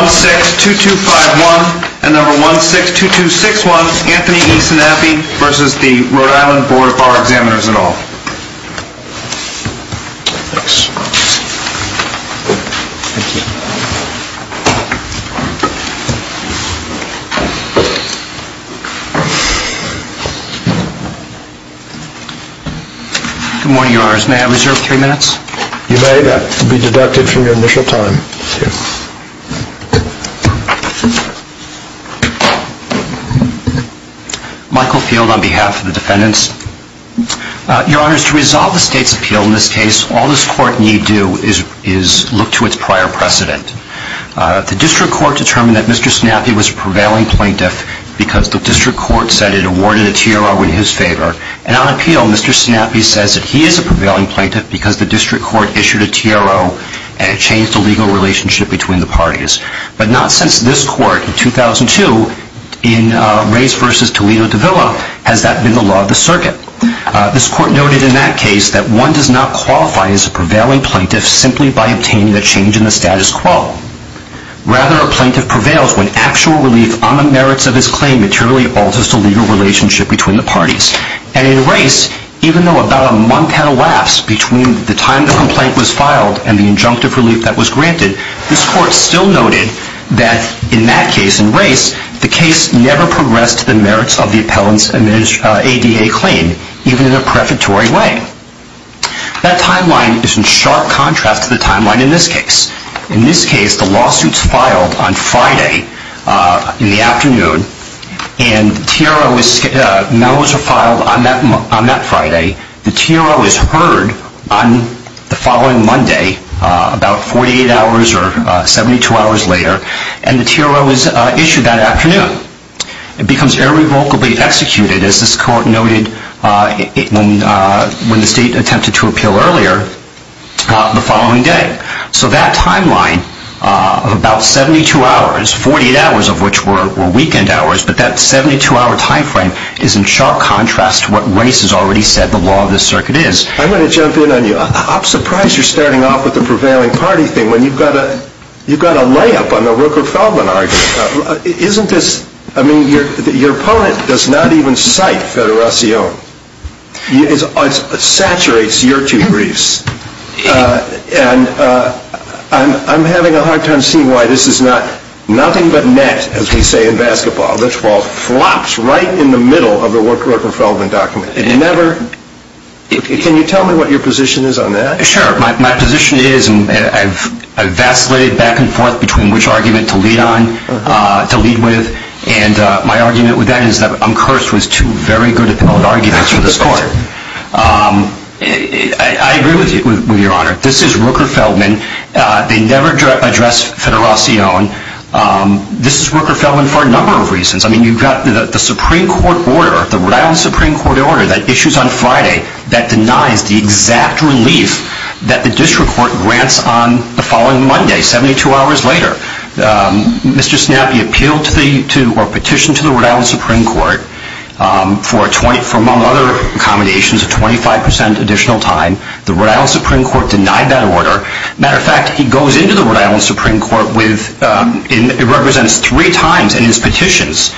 162251 and number 162261 Anthony E. Sanapi v. RI Board of Bar Examiners Good morning, your honors. May I reserve three minutes? You may. That will be deducted from your initial time. Michael Field on behalf of the defendants. Your honors, to resolve the state's appeal in this case, all this court need do is look to its prior precedent. The district court determined that Mr. Sanapi was a prevailing plaintiff because the district court said it awarded a T.R.R. in his favor. And on appeal, Mr. Sanapi says that he is a prevailing plaintiff because the district court issued a T.R.R.O. and it changed the legal relationship between the parties. But not since this court in 2002 in Reyes v. Toledo de Villa has that been the law of the circuit. This court noted in that case that one does not qualify as a prevailing plaintiff simply by obtaining a change in the status quo. Rather, a plaintiff prevails when actual relief on the merits of his claim materially alters the legal relationship between the parties. And in Reyes, even though about a month had elapsed between the time the complaint was filed and the injunctive relief that was granted, this court still noted that in that case, in Reyes, the case never progressed to the merits of the appellant's ADA claim, even in a prefatory way. That timeline is in sharp contrast to the timeline in this case. In this case, the lawsuit is filed on Friday in the afternoon, and the T.R.R.O. is filed on that Friday. The T.R.R.O. is heard on the following Monday, about 48 hours or 72 hours later, and the T.R.R.O. is issued that afternoon. It becomes irrevocably executed, as this court noted when the state attempted to appeal earlier, the following day. So that timeline of about 72 hours, 48 hours of which were weekend hours, but that 72-hour time frame is in sharp contrast to what Reyes has already said the law of this circuit is. I'm going to jump in on you. I'm surprised you're starting off with the prevailing party thing when you've got a layup on the Rooker-Feldman argument. Isn't this – I mean, your opponent does not even cite federation. It saturates your two briefs. And I'm having a hard time seeing why this is not – nothing but net, as we say in basketball. This ball flops right in the middle of the Rooker-Feldman document. It never – can you tell me what your position is on that? Sure. My position is – and I've vacillated back and forth between which argument to lead on, to lead with, and my argument with that is that Uncursed was too very good at building arguments for this court. I agree with you, Your Honor. This is Rooker-Feldman. They never address federation. This is Rooker-Feldman for a number of reasons. I mean, you've got the Supreme Court order, the Rhode Island Supreme Court order that issues on Friday that denies the exact relief that the district court grants on the following Monday, 72 hours later. Mr. Snappy appealed to the – or petitioned to the Rhode Island Supreme Court for, among other accommodations, a 25 percent additional time. The Rhode Island Supreme Court denied that order. Matter of fact, he goes into the Rhode Island Supreme Court with – it represents three times in his petitions,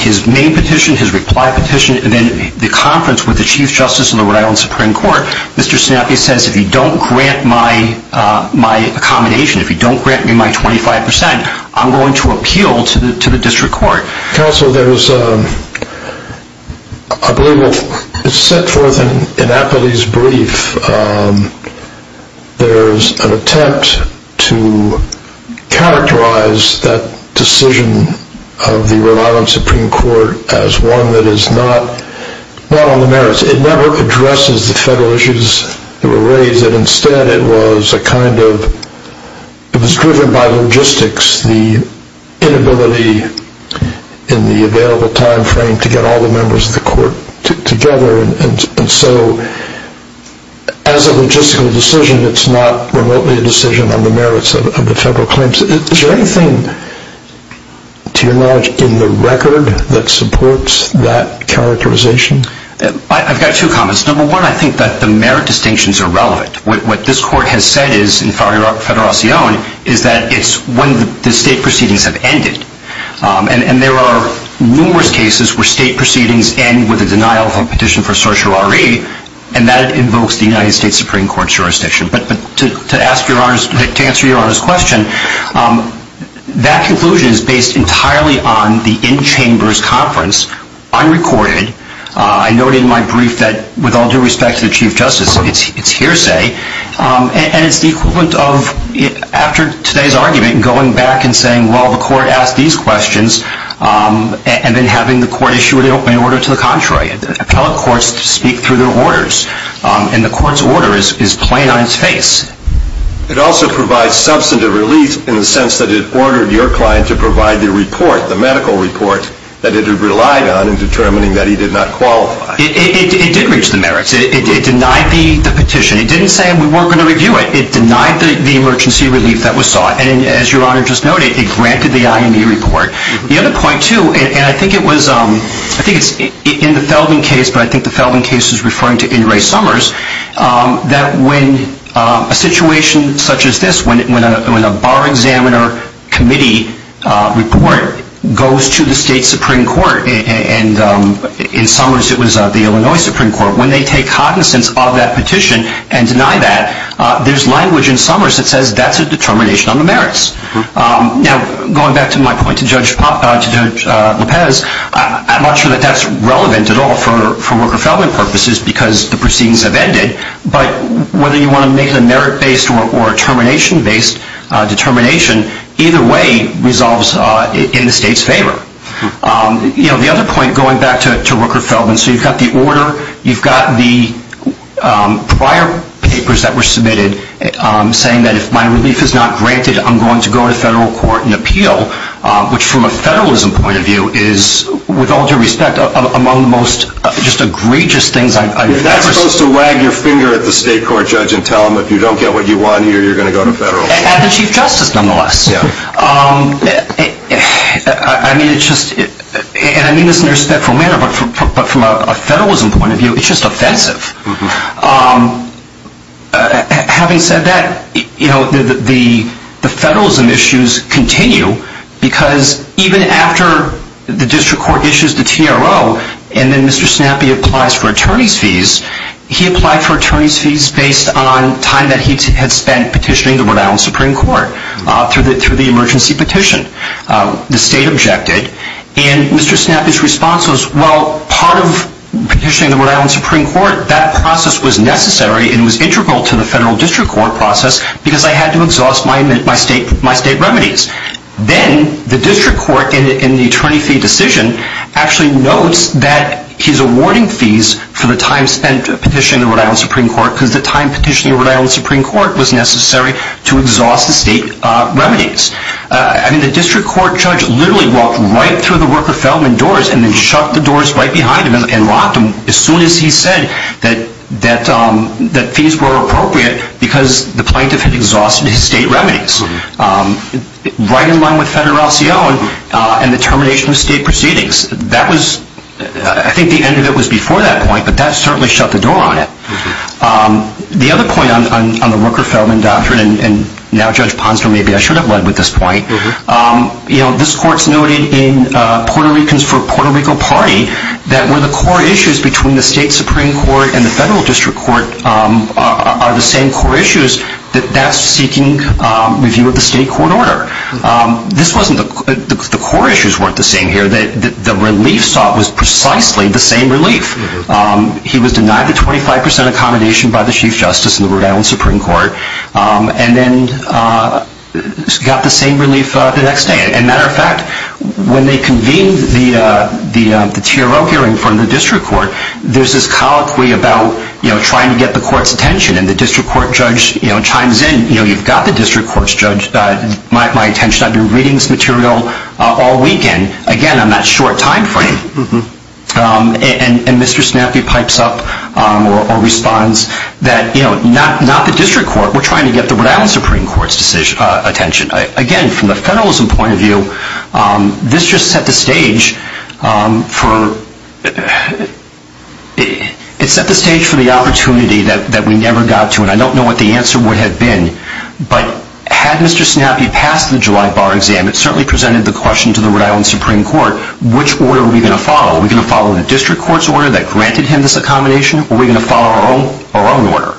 his main petition, his reply petition, and then the conference with the Chief Justice of the Rhode Island Supreme Court. Mr. Snappy says, if you don't grant my accommodation, if you don't grant me my 25 percent, I'm going to appeal to the district court. Counsel, there was a – I believe it was set forth in Apatey's brief. There's an attempt to characterize that decision of the Rhode Island Supreme Court as one that is not on the merits. It never addresses the federal issues that were raised. Instead, it was a kind of – it was driven by logistics, the inability in the available time frame to get all the members of the court together. And so as a logistical decision, it's not remotely a decision on the merits of the federal claims. Is there anything, to your knowledge, in the record that supports that characterization? I've got two comments. Number one, I think that the merit distinctions are relevant. What this court has said is, in federacion, is that it's when the state proceedings have ended. And there are numerous cases where state proceedings end with a denial of a petition for certiorari, and that invokes the United States Supreme Court's jurisdiction. But to answer Your Honor's question, that conclusion is based entirely on the in-chambers conference, unrecorded. I noted in my brief that, with all due respect to the Chief Justice, it's hearsay. And it's the equivalent of, after today's argument, going back and saying, well, the court asked these questions, and then having the court issue an open order to the contrary. Appellate courts speak through their orders. And the court's order is plain on its face. It also provides substantive relief in the sense that it ordered your client to provide the report, the medical report, that it had relied on in determining that he did not qualify. It did reach the merits. It denied the petition. It didn't say we weren't going to review it. It denied the emergency relief that was sought. And as Your Honor just noted, it granted the IME report. The other point, too, and I think it was in the Felden case, but I think the Felden case is referring to In re Summers, that when a situation such as this, when a bar examiner committee report goes to the state Supreme Court, and in Summers it was the Illinois Supreme Court, when they take cognizance of that petition and deny that, there's language in Summers that says that's a determination on the merits. Now, going back to my point to Judge Lopez, I'm not sure that that's relevant at all for Worker-Felden purposes because the proceedings have ended. But whether you want to make it a merit-based or a termination-based determination, either way resolves in the state's favor. The other point, going back to Worker-Felden, so you've got the order, you've got the prior papers that were submitted saying that if my relief is not granted, I'm going to go to federal court and appeal, which from a federalism point of view is, with all due respect, among the most egregious things I've ever seen. You're not supposed to wag your finger at the state court judge and tell him if you don't get what you want here, you're going to go to federal court. At the Chief Justice, nonetheless. I mean, it's just, and I mean this in a respectful manner, but from a federalism point of view, it's just offensive. Having said that, the federalism issues continue because even after the district court issues the TRO and then Mr. Snappy applies for attorney's fees, he applied for attorney's fees based on time that he had spent petitioning the Rhode Island Supreme Court through the emergency petition. The state objected, and Mr. Snappy's response was, well, part of petitioning the Rhode Island Supreme Court, that process was necessary and was integral to the federal district court process because I had to exhaust my state remedies. Then the district court, in the attorney fee decision, actually notes that he's awarding fees for the time spent petitioning the Rhode Island Supreme Court because the time petitioning the Rhode Island Supreme Court was necessary to exhaust the state remedies. I mean, the district court judge literally walked right through the Rooker-Feldman doors and then shut the doors right behind him and locked them as soon as he said that fees were appropriate because the plaintiff had exhausted his state remedies, right in line with federal C.O. and the termination of state proceedings. That was, I think the end of it was before that point, but that certainly shut the door on it. The other point on the Rooker-Feldman doctrine, and now Judge Ponsner, maybe I should have led with this point, this court's noted in Puerto Rico Party that where the core issues between the state Supreme Court and the federal district court are the same core issues, that that's seeking review of the state court order. The core issues weren't the same here. The relief sought was precisely the same relief. He was denied the 25% accommodation by the Chief Justice in the Rhode Island Supreme Court and then got the same relief the next day. As a matter of fact, when they convened the TRO hearing from the district court, there's this colloquy about trying to get the court's attention, and the district court judge chimes in, you've got the district court's attention, I've been reading this material all weekend, again on that short time frame. And Mr. Snappy pipes up or responds that not the district court, we're trying to get the Rhode Island Supreme Court's attention. Again, from a federalism point of view, this just set the stage for the opportunity that we never got to, and I don't know what the answer would have been, but had Mr. Snappy passed the July bar exam, it certainly presented the question to the Rhode Island Supreme Court which order are we going to follow? Are we going to follow the district court's order that granted him this accommodation, or are we going to follow our own order?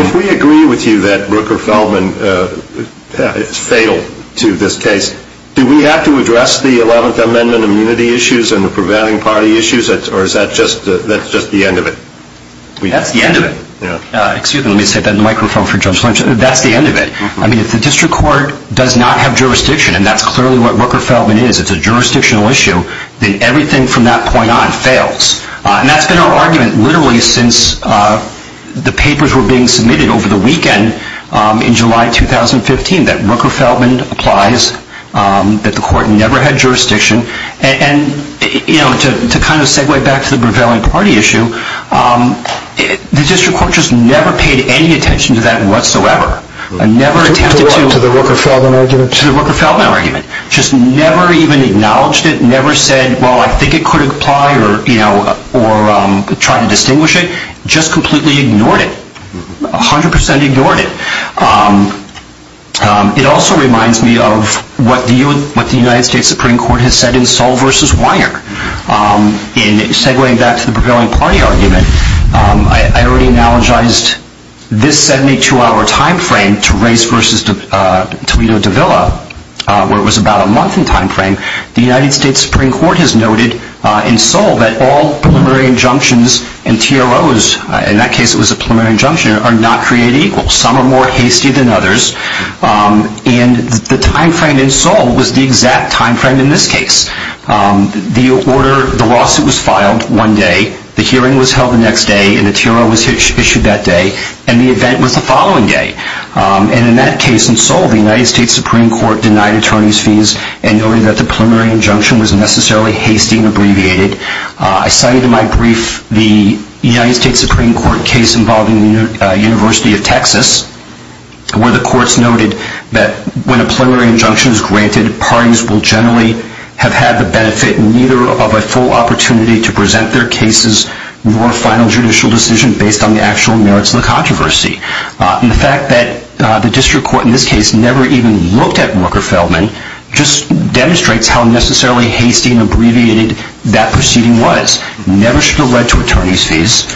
If we agree with you that Rooker-Feldman failed to this case, do we have to address the Eleventh Amendment immunity issues and the prevailing party issues, or is that just the end of it? That's the end of it. Excuse me, let me set that microphone for Judge Lynch. That's the end of it. I mean, if the district court does not have jurisdiction, and that's clearly what Rooker-Feldman is, it's a jurisdictional issue, then everything from that point on fails. And that's been our argument literally since the papers were being submitted over the weekend in July 2015, that Rooker-Feldman applies, that the court never had jurisdiction, and to kind of segue back to the prevailing party issue, the district court just never paid any attention to that whatsoever. To what, to the Rooker-Feldman argument? To the Rooker-Feldman argument. Just never even acknowledged it, never said, well, I think it could apply, or tried to distinguish it, just completely ignored it, 100% ignored it. It also reminds me of what the United States Supreme Court has said in Saul v. Weiner. In segueing back to the prevailing party argument, I already analogized this 72-hour time frame to Race v. Toledo-De Villa, where it was about a month in time frame. The United States Supreme Court has noted in Saul that all preliminary injunctions and TROs, in that case it was a preliminary injunction, are not created equal. Some are more hasty than others, and the time frame in Saul was the exact time frame in this case. The order, the lawsuit was filed one day, the hearing was held the next day, and the TRO was issued that day, and the event was the following day. And in that case in Saul, the United States Supreme Court denied attorneys' fees and noted that the preliminary injunction was necessarily hasty and abbreviated. I cited in my brief the United States Supreme Court case involving the University of Texas, where the courts noted that when a preliminary injunction is granted, parties will generally have had the benefit neither of a full opportunity to present their cases nor a final judicial decision based on the actual merits of the controversy. And the fact that the district court in this case never even looked at Walker-Feldman just demonstrates how necessarily hasty and abbreviated that proceeding was. It never should have led to attorneys' fees,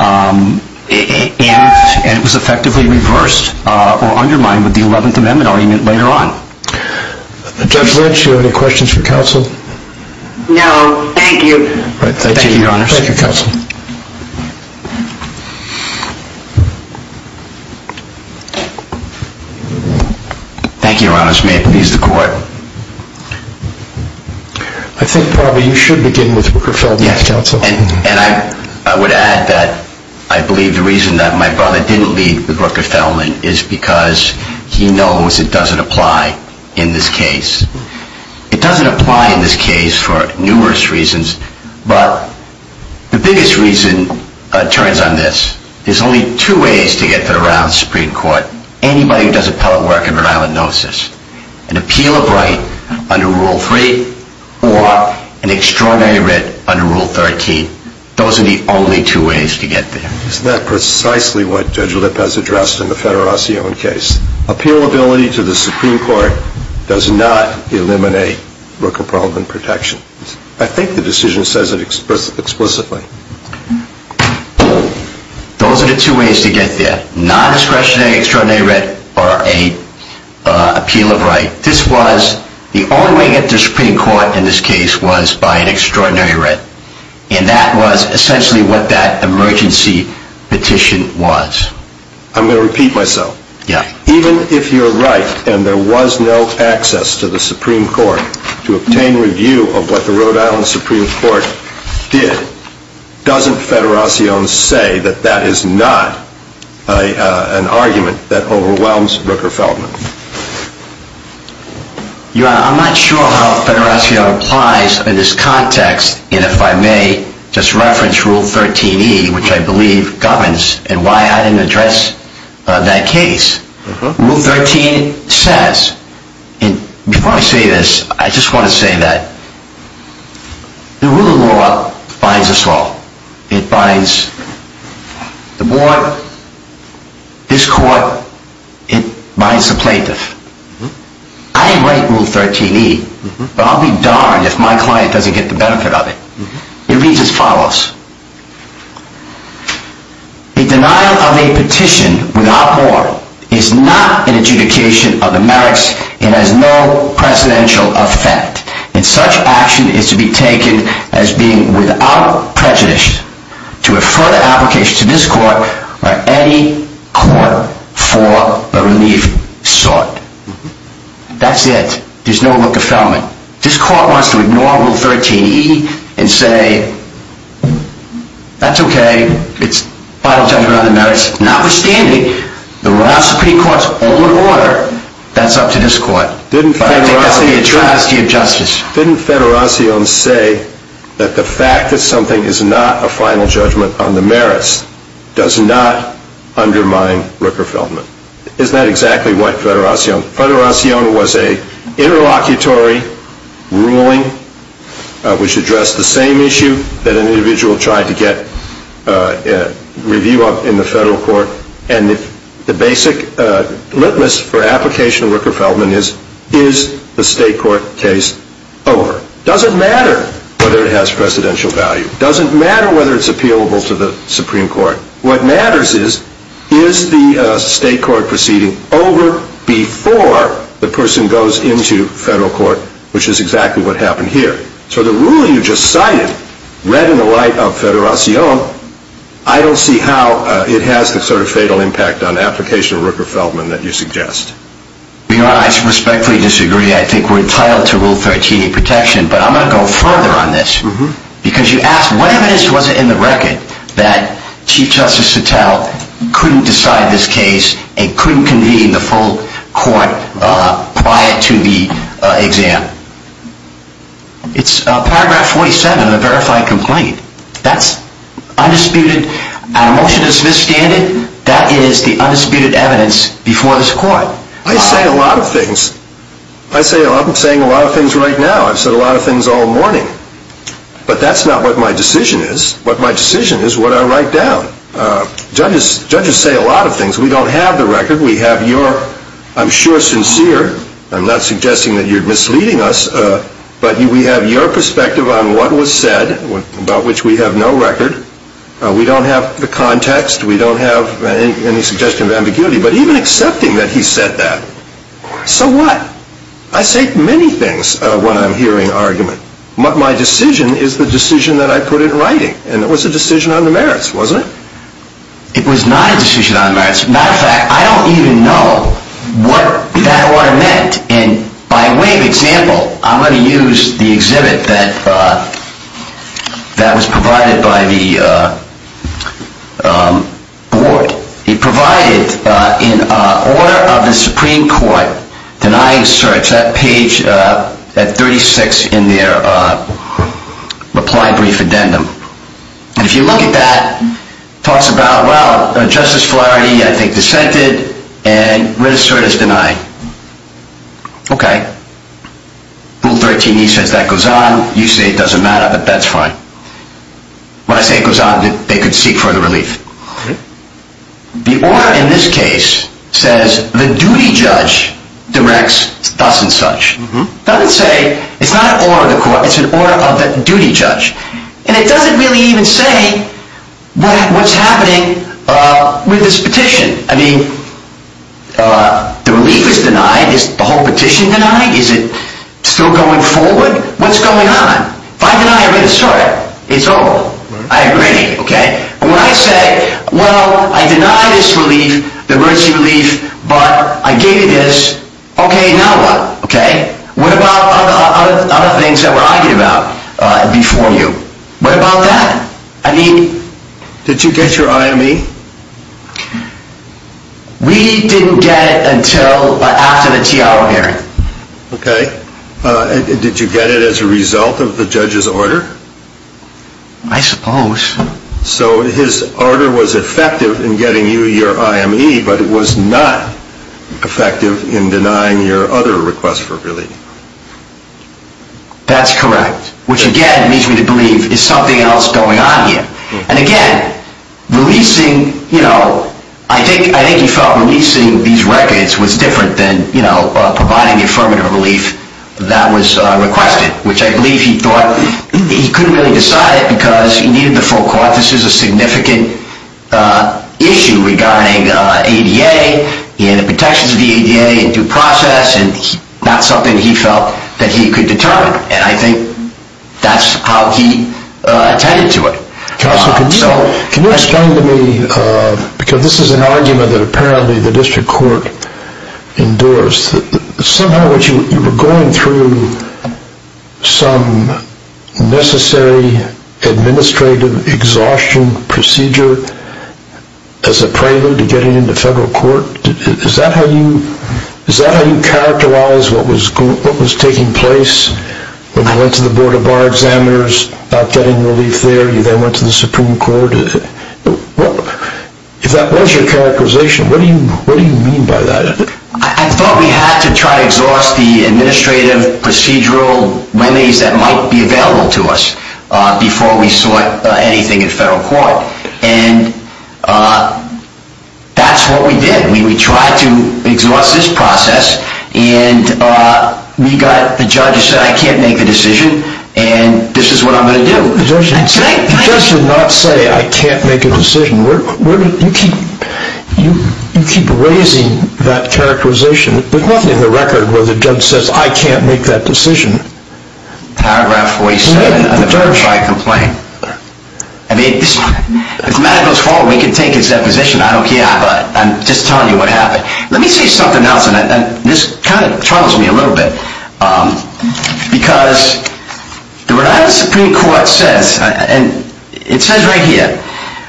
and it was effectively reversed or undermined with the Eleventh Amendment argument later on. Judge Lynch, do you have any questions for counsel? No, thank you. Thank you, Your Honors. Thank you, Counsel. Thank you, Your Honors. May it please the Court. I think probably you should begin with Rooker-Feldman, Counsel. And I would add that I believe the reason that my brother didn't lead with Rooker-Feldman is because he knows it doesn't apply in this case. It doesn't apply in this case for numerous reasons, but the biggest reason turns on this. There's only two ways to get to the Rhode Island Supreme Court. Anybody who does appellate work in Rhode Island knows this. An appeal of right under Rule 3 or an extraordinary writ under Rule 13. Those are the only two ways to get there. Isn't that precisely what Judge Lipp has addressed in the Federazione case? Appealability to the Supreme Court does not eliminate Rooker-Feldman protection. I think the decision says it explicitly. Those are the two ways to get there. Non-discretionary extraordinary writ or an appeal of right. This was the only way to get to the Supreme Court in this case was by an extraordinary writ. And that was essentially what that emergency petition was. I'm going to repeat myself. Even if you're right and there was no access to the Supreme Court to obtain review of what the Rhode Island Supreme Court did, doesn't Federazione say that that is not an argument that overwhelms Rooker-Feldman? Your Honor, I'm not sure how Federazione applies in this context. And if I may just reference Rule 13e, which I believe governs and why I didn't address that case. Rule 13 says, and before I say this, I just want to say that the rule of law binds us all. It binds the board, this court, it binds the plaintiff. I write Rule 13e, but I'll be darned if my client doesn't get the benefit of it. It reads as follows. A denial of a petition without warrant is not an adjudication of the merits and has no precedential effect. And such action is to be taken as being without prejudice to a further application to this court or any court for a relief sought. That's it. There's no Rooker-Feldman. This court wants to ignore Rule 13e and say, that's okay, it's final judgment on the merits. Notwithstanding, the Rhode Island Supreme Court's own order, that's up to this court. Didn't Federacion say that the fact that something is not a final judgment on the merits does not undermine Rooker-Feldman? Isn't that exactly what Federacion? Federacion was an interlocutory ruling which addressed the same issue that an individual tried to get review of in the federal court. And the basic litmus for application of Rooker-Feldman is, is the state court case over? It doesn't matter whether it has precedential value. It doesn't matter whether it's appealable to the Supreme Court. What matters is, is the state court proceeding over before the person goes into federal court, which is exactly what happened here. So the ruling you just cited, read in the light of Federacion, I don't see how it has the sort of fatal impact on application of Rooker-Feldman that you suggest. Your Honor, I respectfully disagree. I think we're entitled to Rule 13e protection. But I'm going to go further on this. Because you asked, what evidence was it in the record that Chief Justice Sattel couldn't decide this case and couldn't convene the full court prior to the exam? It's Paragraph 47 of the verified complaint. That's undisputed. Our motion is misstanded. That is the undisputed evidence before this court. I say a lot of things. I'm saying a lot of things right now. I've said a lot of things all morning. But that's not what my decision is. But my decision is what I write down. Judges say a lot of things. We don't have the record. We have your, I'm sure, sincere. I'm not suggesting that you're misleading us. But we have your perspective on what was said, about which we have no record. We don't have the context. We don't have any suggestion of ambiguity. But even accepting that he said that, so what? I say many things when I'm hearing argument. My decision is the decision that I put in writing. And it was a decision on the merits, wasn't it? It was not a decision on the merits. As a matter of fact, I don't even know what that order meant. And by way of example, I'm going to use the exhibit that was provided by the board. It provided, in order of the Supreme Court, denying search, that page at 36 in their reply brief addendum. And if you look at that, it talks about, well, Justice Fularity, I think, dissented. And Redistort is denied. Okay. Rule 13E says that goes on. You say it doesn't matter, but that's fine. When I say it goes on, they could seek further relief. The order in this case says the duty judge directs thus and such. It doesn't say, it's not an order of the court. It's an order of the duty judge. And it doesn't really even say what's happening with this petition. I mean, the relief is denied. Is the whole petition denied? Is it still going forward? What's going on? If I deny Redistort, it's over. I agree, okay? But when I say, well, I deny this relief, the emergency relief, but I gave you this, okay, now what? What about other things that were argued about before you? What about that? Did you get your IME? We didn't get it until after the T.R.O. hearing. Okay. Did you get it as a result of the judge's order? I suppose. So his order was effective in getting you your IME, but it was not effective in denying your other request for relief. That's correct. Which, again, leads me to believe there's something else going on here. And, again, releasing, you know, I think he felt releasing these records was different than, you know, providing the affirmative relief that was requested, which I believe he thought he couldn't really decide it because he needed the full court. This is a significant issue regarding ADA and the protections of the ADA and due process, and not something he felt that he could determine. And I think that's how he attended to it. Counsel, can you explain to me, because this is an argument that apparently the district court endorsed, that somehow you were going through some necessary administrative exhaustion procedure as a prelude to getting into federal court. Is that how you characterized what was taking place when you went to the Board of Bar Examiners about getting relief there? You then went to the Supreme Court. If that was your characterization, what do you mean by that? I thought we had to try to exhaust the administrative procedural remedies that might be available to us before we sought anything in federal court. And that's what we did. We tried to exhaust this process, and we got the judge who said, I can't make a decision, and this is what I'm going to do. The judge did not say, I can't make a decision. You keep raising that characterization. There's nothing in the record where the judge says, I can't make that decision. Paragraph 47 of the certified complaint. I mean, if the matter goes forward, we can take his deposition. I don't care. I'm just telling you what happened. Let me say something else, and this kind of troubles me a little bit. Because the Rhode Island Supreme Court says, and it says right here,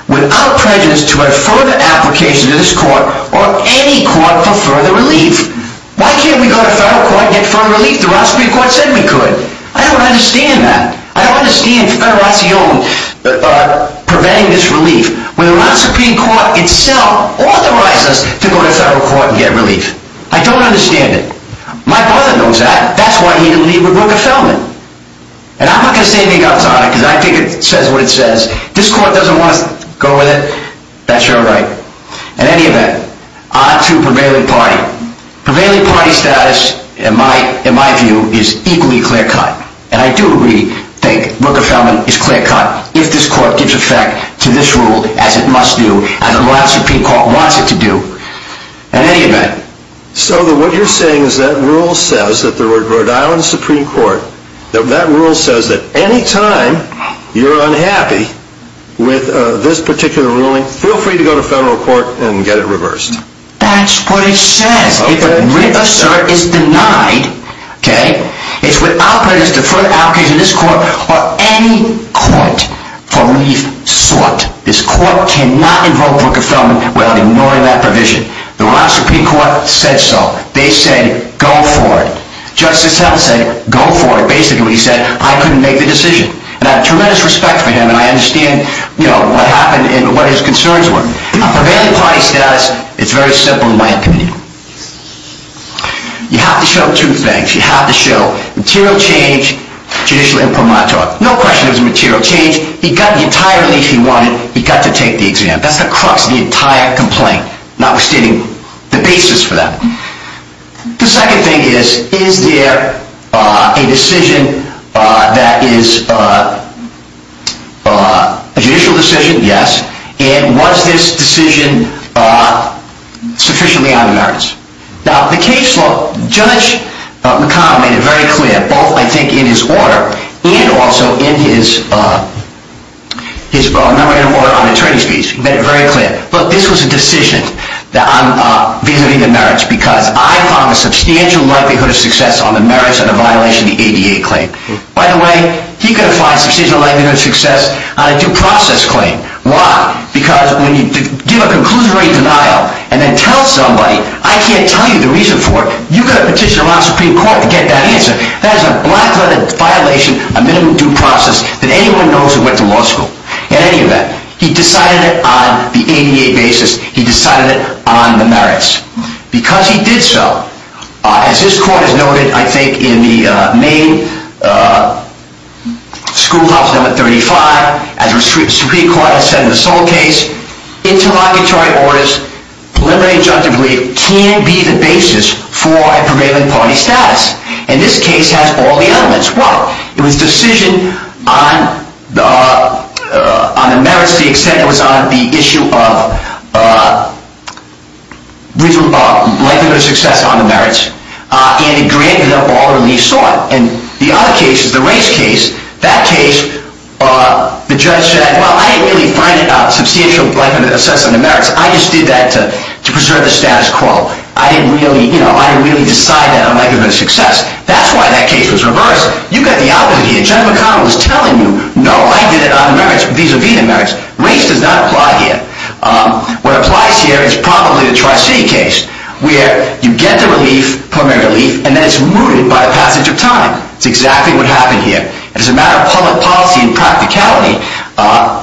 without prejudice to a further application to this court or any court for further relief, why can't we go to federal court and get further relief? The Rhode Island Supreme Court said we could. I don't understand that. I don't understand federation preventing this relief when the Rhode Island Supreme Court itself authorized us to go to federal court and get relief. I don't understand it. My brother knows that. That's why he didn't leave with Rooker-Felman. And I'm not going to say anything else on it, because I think it says what it says. If this court doesn't want us to go with it, that's your right. In any event, on to prevailing party. Prevailing party status, in my view, is equally clear-cut. And I do really think Rooker-Felman is clear-cut if this court gives effect to this rule as it must do, as the Rhode Island Supreme Court wants it to do. In any event. So what you're saying is that rule says that the Rhode Island Supreme Court, that rule says that any time you're unhappy with this particular ruling, feel free to go to federal court and get it reversed. That's what it says. If a writ of cert is denied, okay, it's without prejudice to further the application of this court or any court for relief sought. This court cannot invoke Rooker-Felman without ignoring that provision. The Rhode Island Supreme Court said so. They said, go for it. Justice Helms said, go for it, basically when he said, I couldn't make the decision. And I have tremendous respect for him, and I understand, you know, what happened and what his concerns were. Prevailing party status, it's very simple in my opinion. You have to show two things. You have to show material change, judicial imprimatur. No question it was a material change. He got the entire relief he wanted. He got to take the exam. That's the crux of the entire complaint, notwithstanding the basis for that. The second thing is, is there a decision that is a judicial decision? Yes. And was this decision sufficiently on merits? Now, the case law, Judge McConnell made it very clear, both I think in his order and also in his memorandum order on attorney's fees. He made it very clear, look, this was a decision that I'm visiting the merits because I found a substantial likelihood of success on the merits of the violation of the ADA claim. By the way, he could have found substantial likelihood of success on a due process claim. Why? Because when you give a conclusionary denial and then tell somebody, I can't tell you the reason for it, you've got to petition the Supreme Court to get that answer. That is a black-letter violation, a minimum due process that anyone knows who went to law school. In any event, he decided it on the ADA basis. He decided it on the merits. Because he did so, as this court has noted, I think, in the main schoolhouse number 35, as the Supreme Court has said in the sole case, interlocutory orders, preliminary and injunctively, can be the basis for a prevailing party status. And this case has all the elements. It was a decision on the merits to the extent it was on the issue of likelihood of success on the merits. And it granted up all relief sought. And the other case is the race case. That case, the judge said, well, I didn't really find a substantial likelihood of success on the merits. I just did that to preserve the status quo. I didn't really decide that on likelihood of success. That's why that case was reversed. You've got the opposite here. Judge McConnell is telling you, no, I did it on the merits. These are veto merits. Race does not apply here. What applies here is probably the Tri-City case, where you get the relief, preliminary relief, and then it's mooted by a passage of time. It's exactly what happened here. And as a matter of public policy and practicality,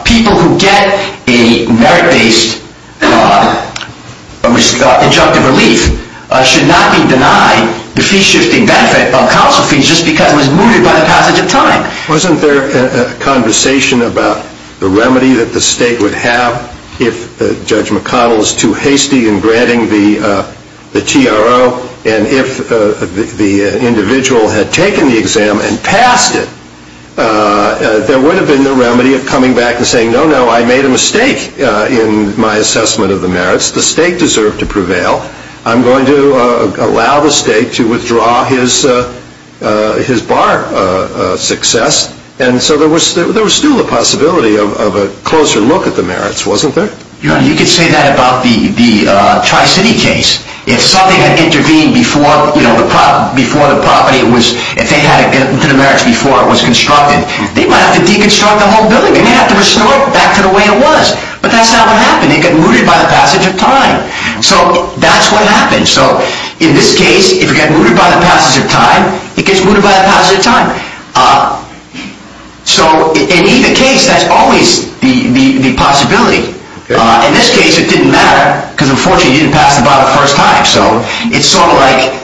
people who get a merit-based injunctive relief should not be denied the fee-shifting benefit of counsel fees just because it was mooted by the passage of time. Wasn't there a conversation about the remedy that the state would have if Judge McConnell is too hasty in granting the TRO? And if the individual had taken the exam and passed it, there would have been the remedy of coming back and saying, no, no, I made a mistake in my assessment of the merits. Well, I'm going to allow the state to withdraw his bar success. And so there was still a possibility of a closer look at the merits, wasn't there? You could say that about the Tri-City case. If something had intervened before the property was – if they had to get to the merits before it was constructed, they might have to deconstruct the whole building. They may have to restore it back to the way it was. But that's not what happened. It got mooted by the passage of time. So that's what happened. So in this case, if it got mooted by the passage of time, it gets mooted by the passage of time. So in either case, that's always the possibility. In this case, it didn't matter because, unfortunately, he didn't pass it by the first time. So it's sort of like,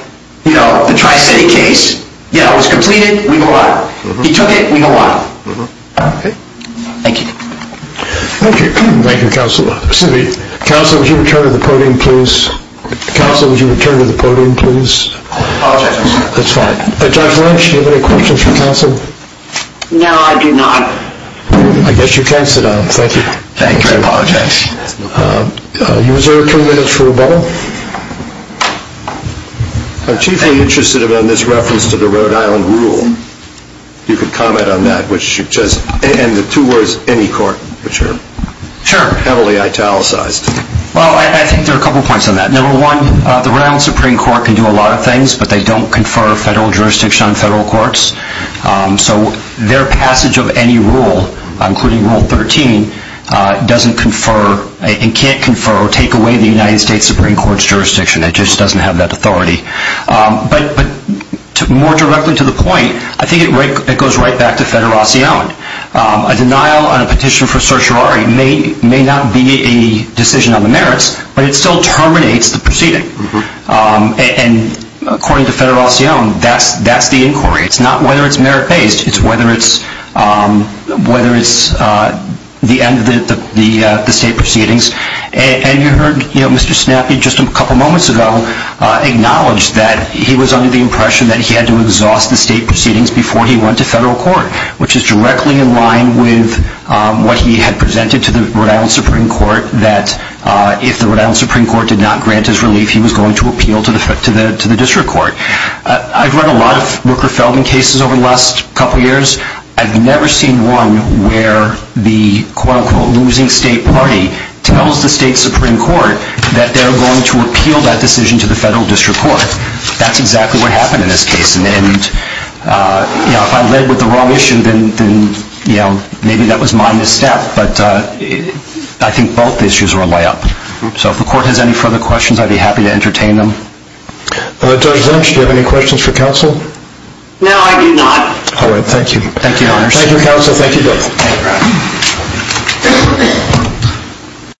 you know, the Tri-City case, you know, it was completed, we go out. He took it, we go out. Thank you. Thank you. Thank you, counsel. Excuse me. Counsel, would you return to the podium, please? Counsel, would you return to the podium, please? Apologize. That's fine. Judge Lynch, do you have any questions for counsel? No, I do not. I guess you can sit down. Thank you. Thank you. I apologize. You reserve two minutes for rebuttal. I'm chiefly interested in this reference to the Rhode Island rule. If you could comment on that, and the two words, any court, which are heavily italicized. Well, I think there are a couple points on that. Number one, the Rhode Island Supreme Court can do a lot of things, but they don't confer federal jurisdiction on federal courts. So their passage of any rule, including Rule 13, doesn't confer and can't confer or take away the United States Supreme Court's jurisdiction. It just doesn't have that authority. But more directly to the point, I think it goes right back to federation. A denial on a petition for certiorari may not be a decision on the merits, but it still terminates the proceeding. And according to federation, that's the inquiry. It's not whether it's merit-based. It's whether it's the end of the state proceedings. And you heard Mr. Snappy just a couple moments ago acknowledge that he was under the impression that he had to exhaust the state proceedings before he went to federal court, which is directly in line with what he had presented to the Rhode Island Supreme Court, that if the Rhode Island Supreme Court did not grant his relief, he was going to appeal to the district court. I've read a lot of Rooker-Feldman cases over the last couple years. I've never seen one where the, quote, unquote, losing state party tells the state Supreme Court that they're going to appeal that decision to the federal district court. That's exactly what happened in this case. And, you know, if I led with the wrong issue, then, you know, maybe that was my misstep. But I think both issues were a layup. So if the court has any further questions, I'd be happy to entertain them. Judge Lynch, do you have any questions for counsel? No, I do not. All right. Thank you. Thank you, Your Honor. Thank you, counsel. Thank you both. Thank you, Your Honor.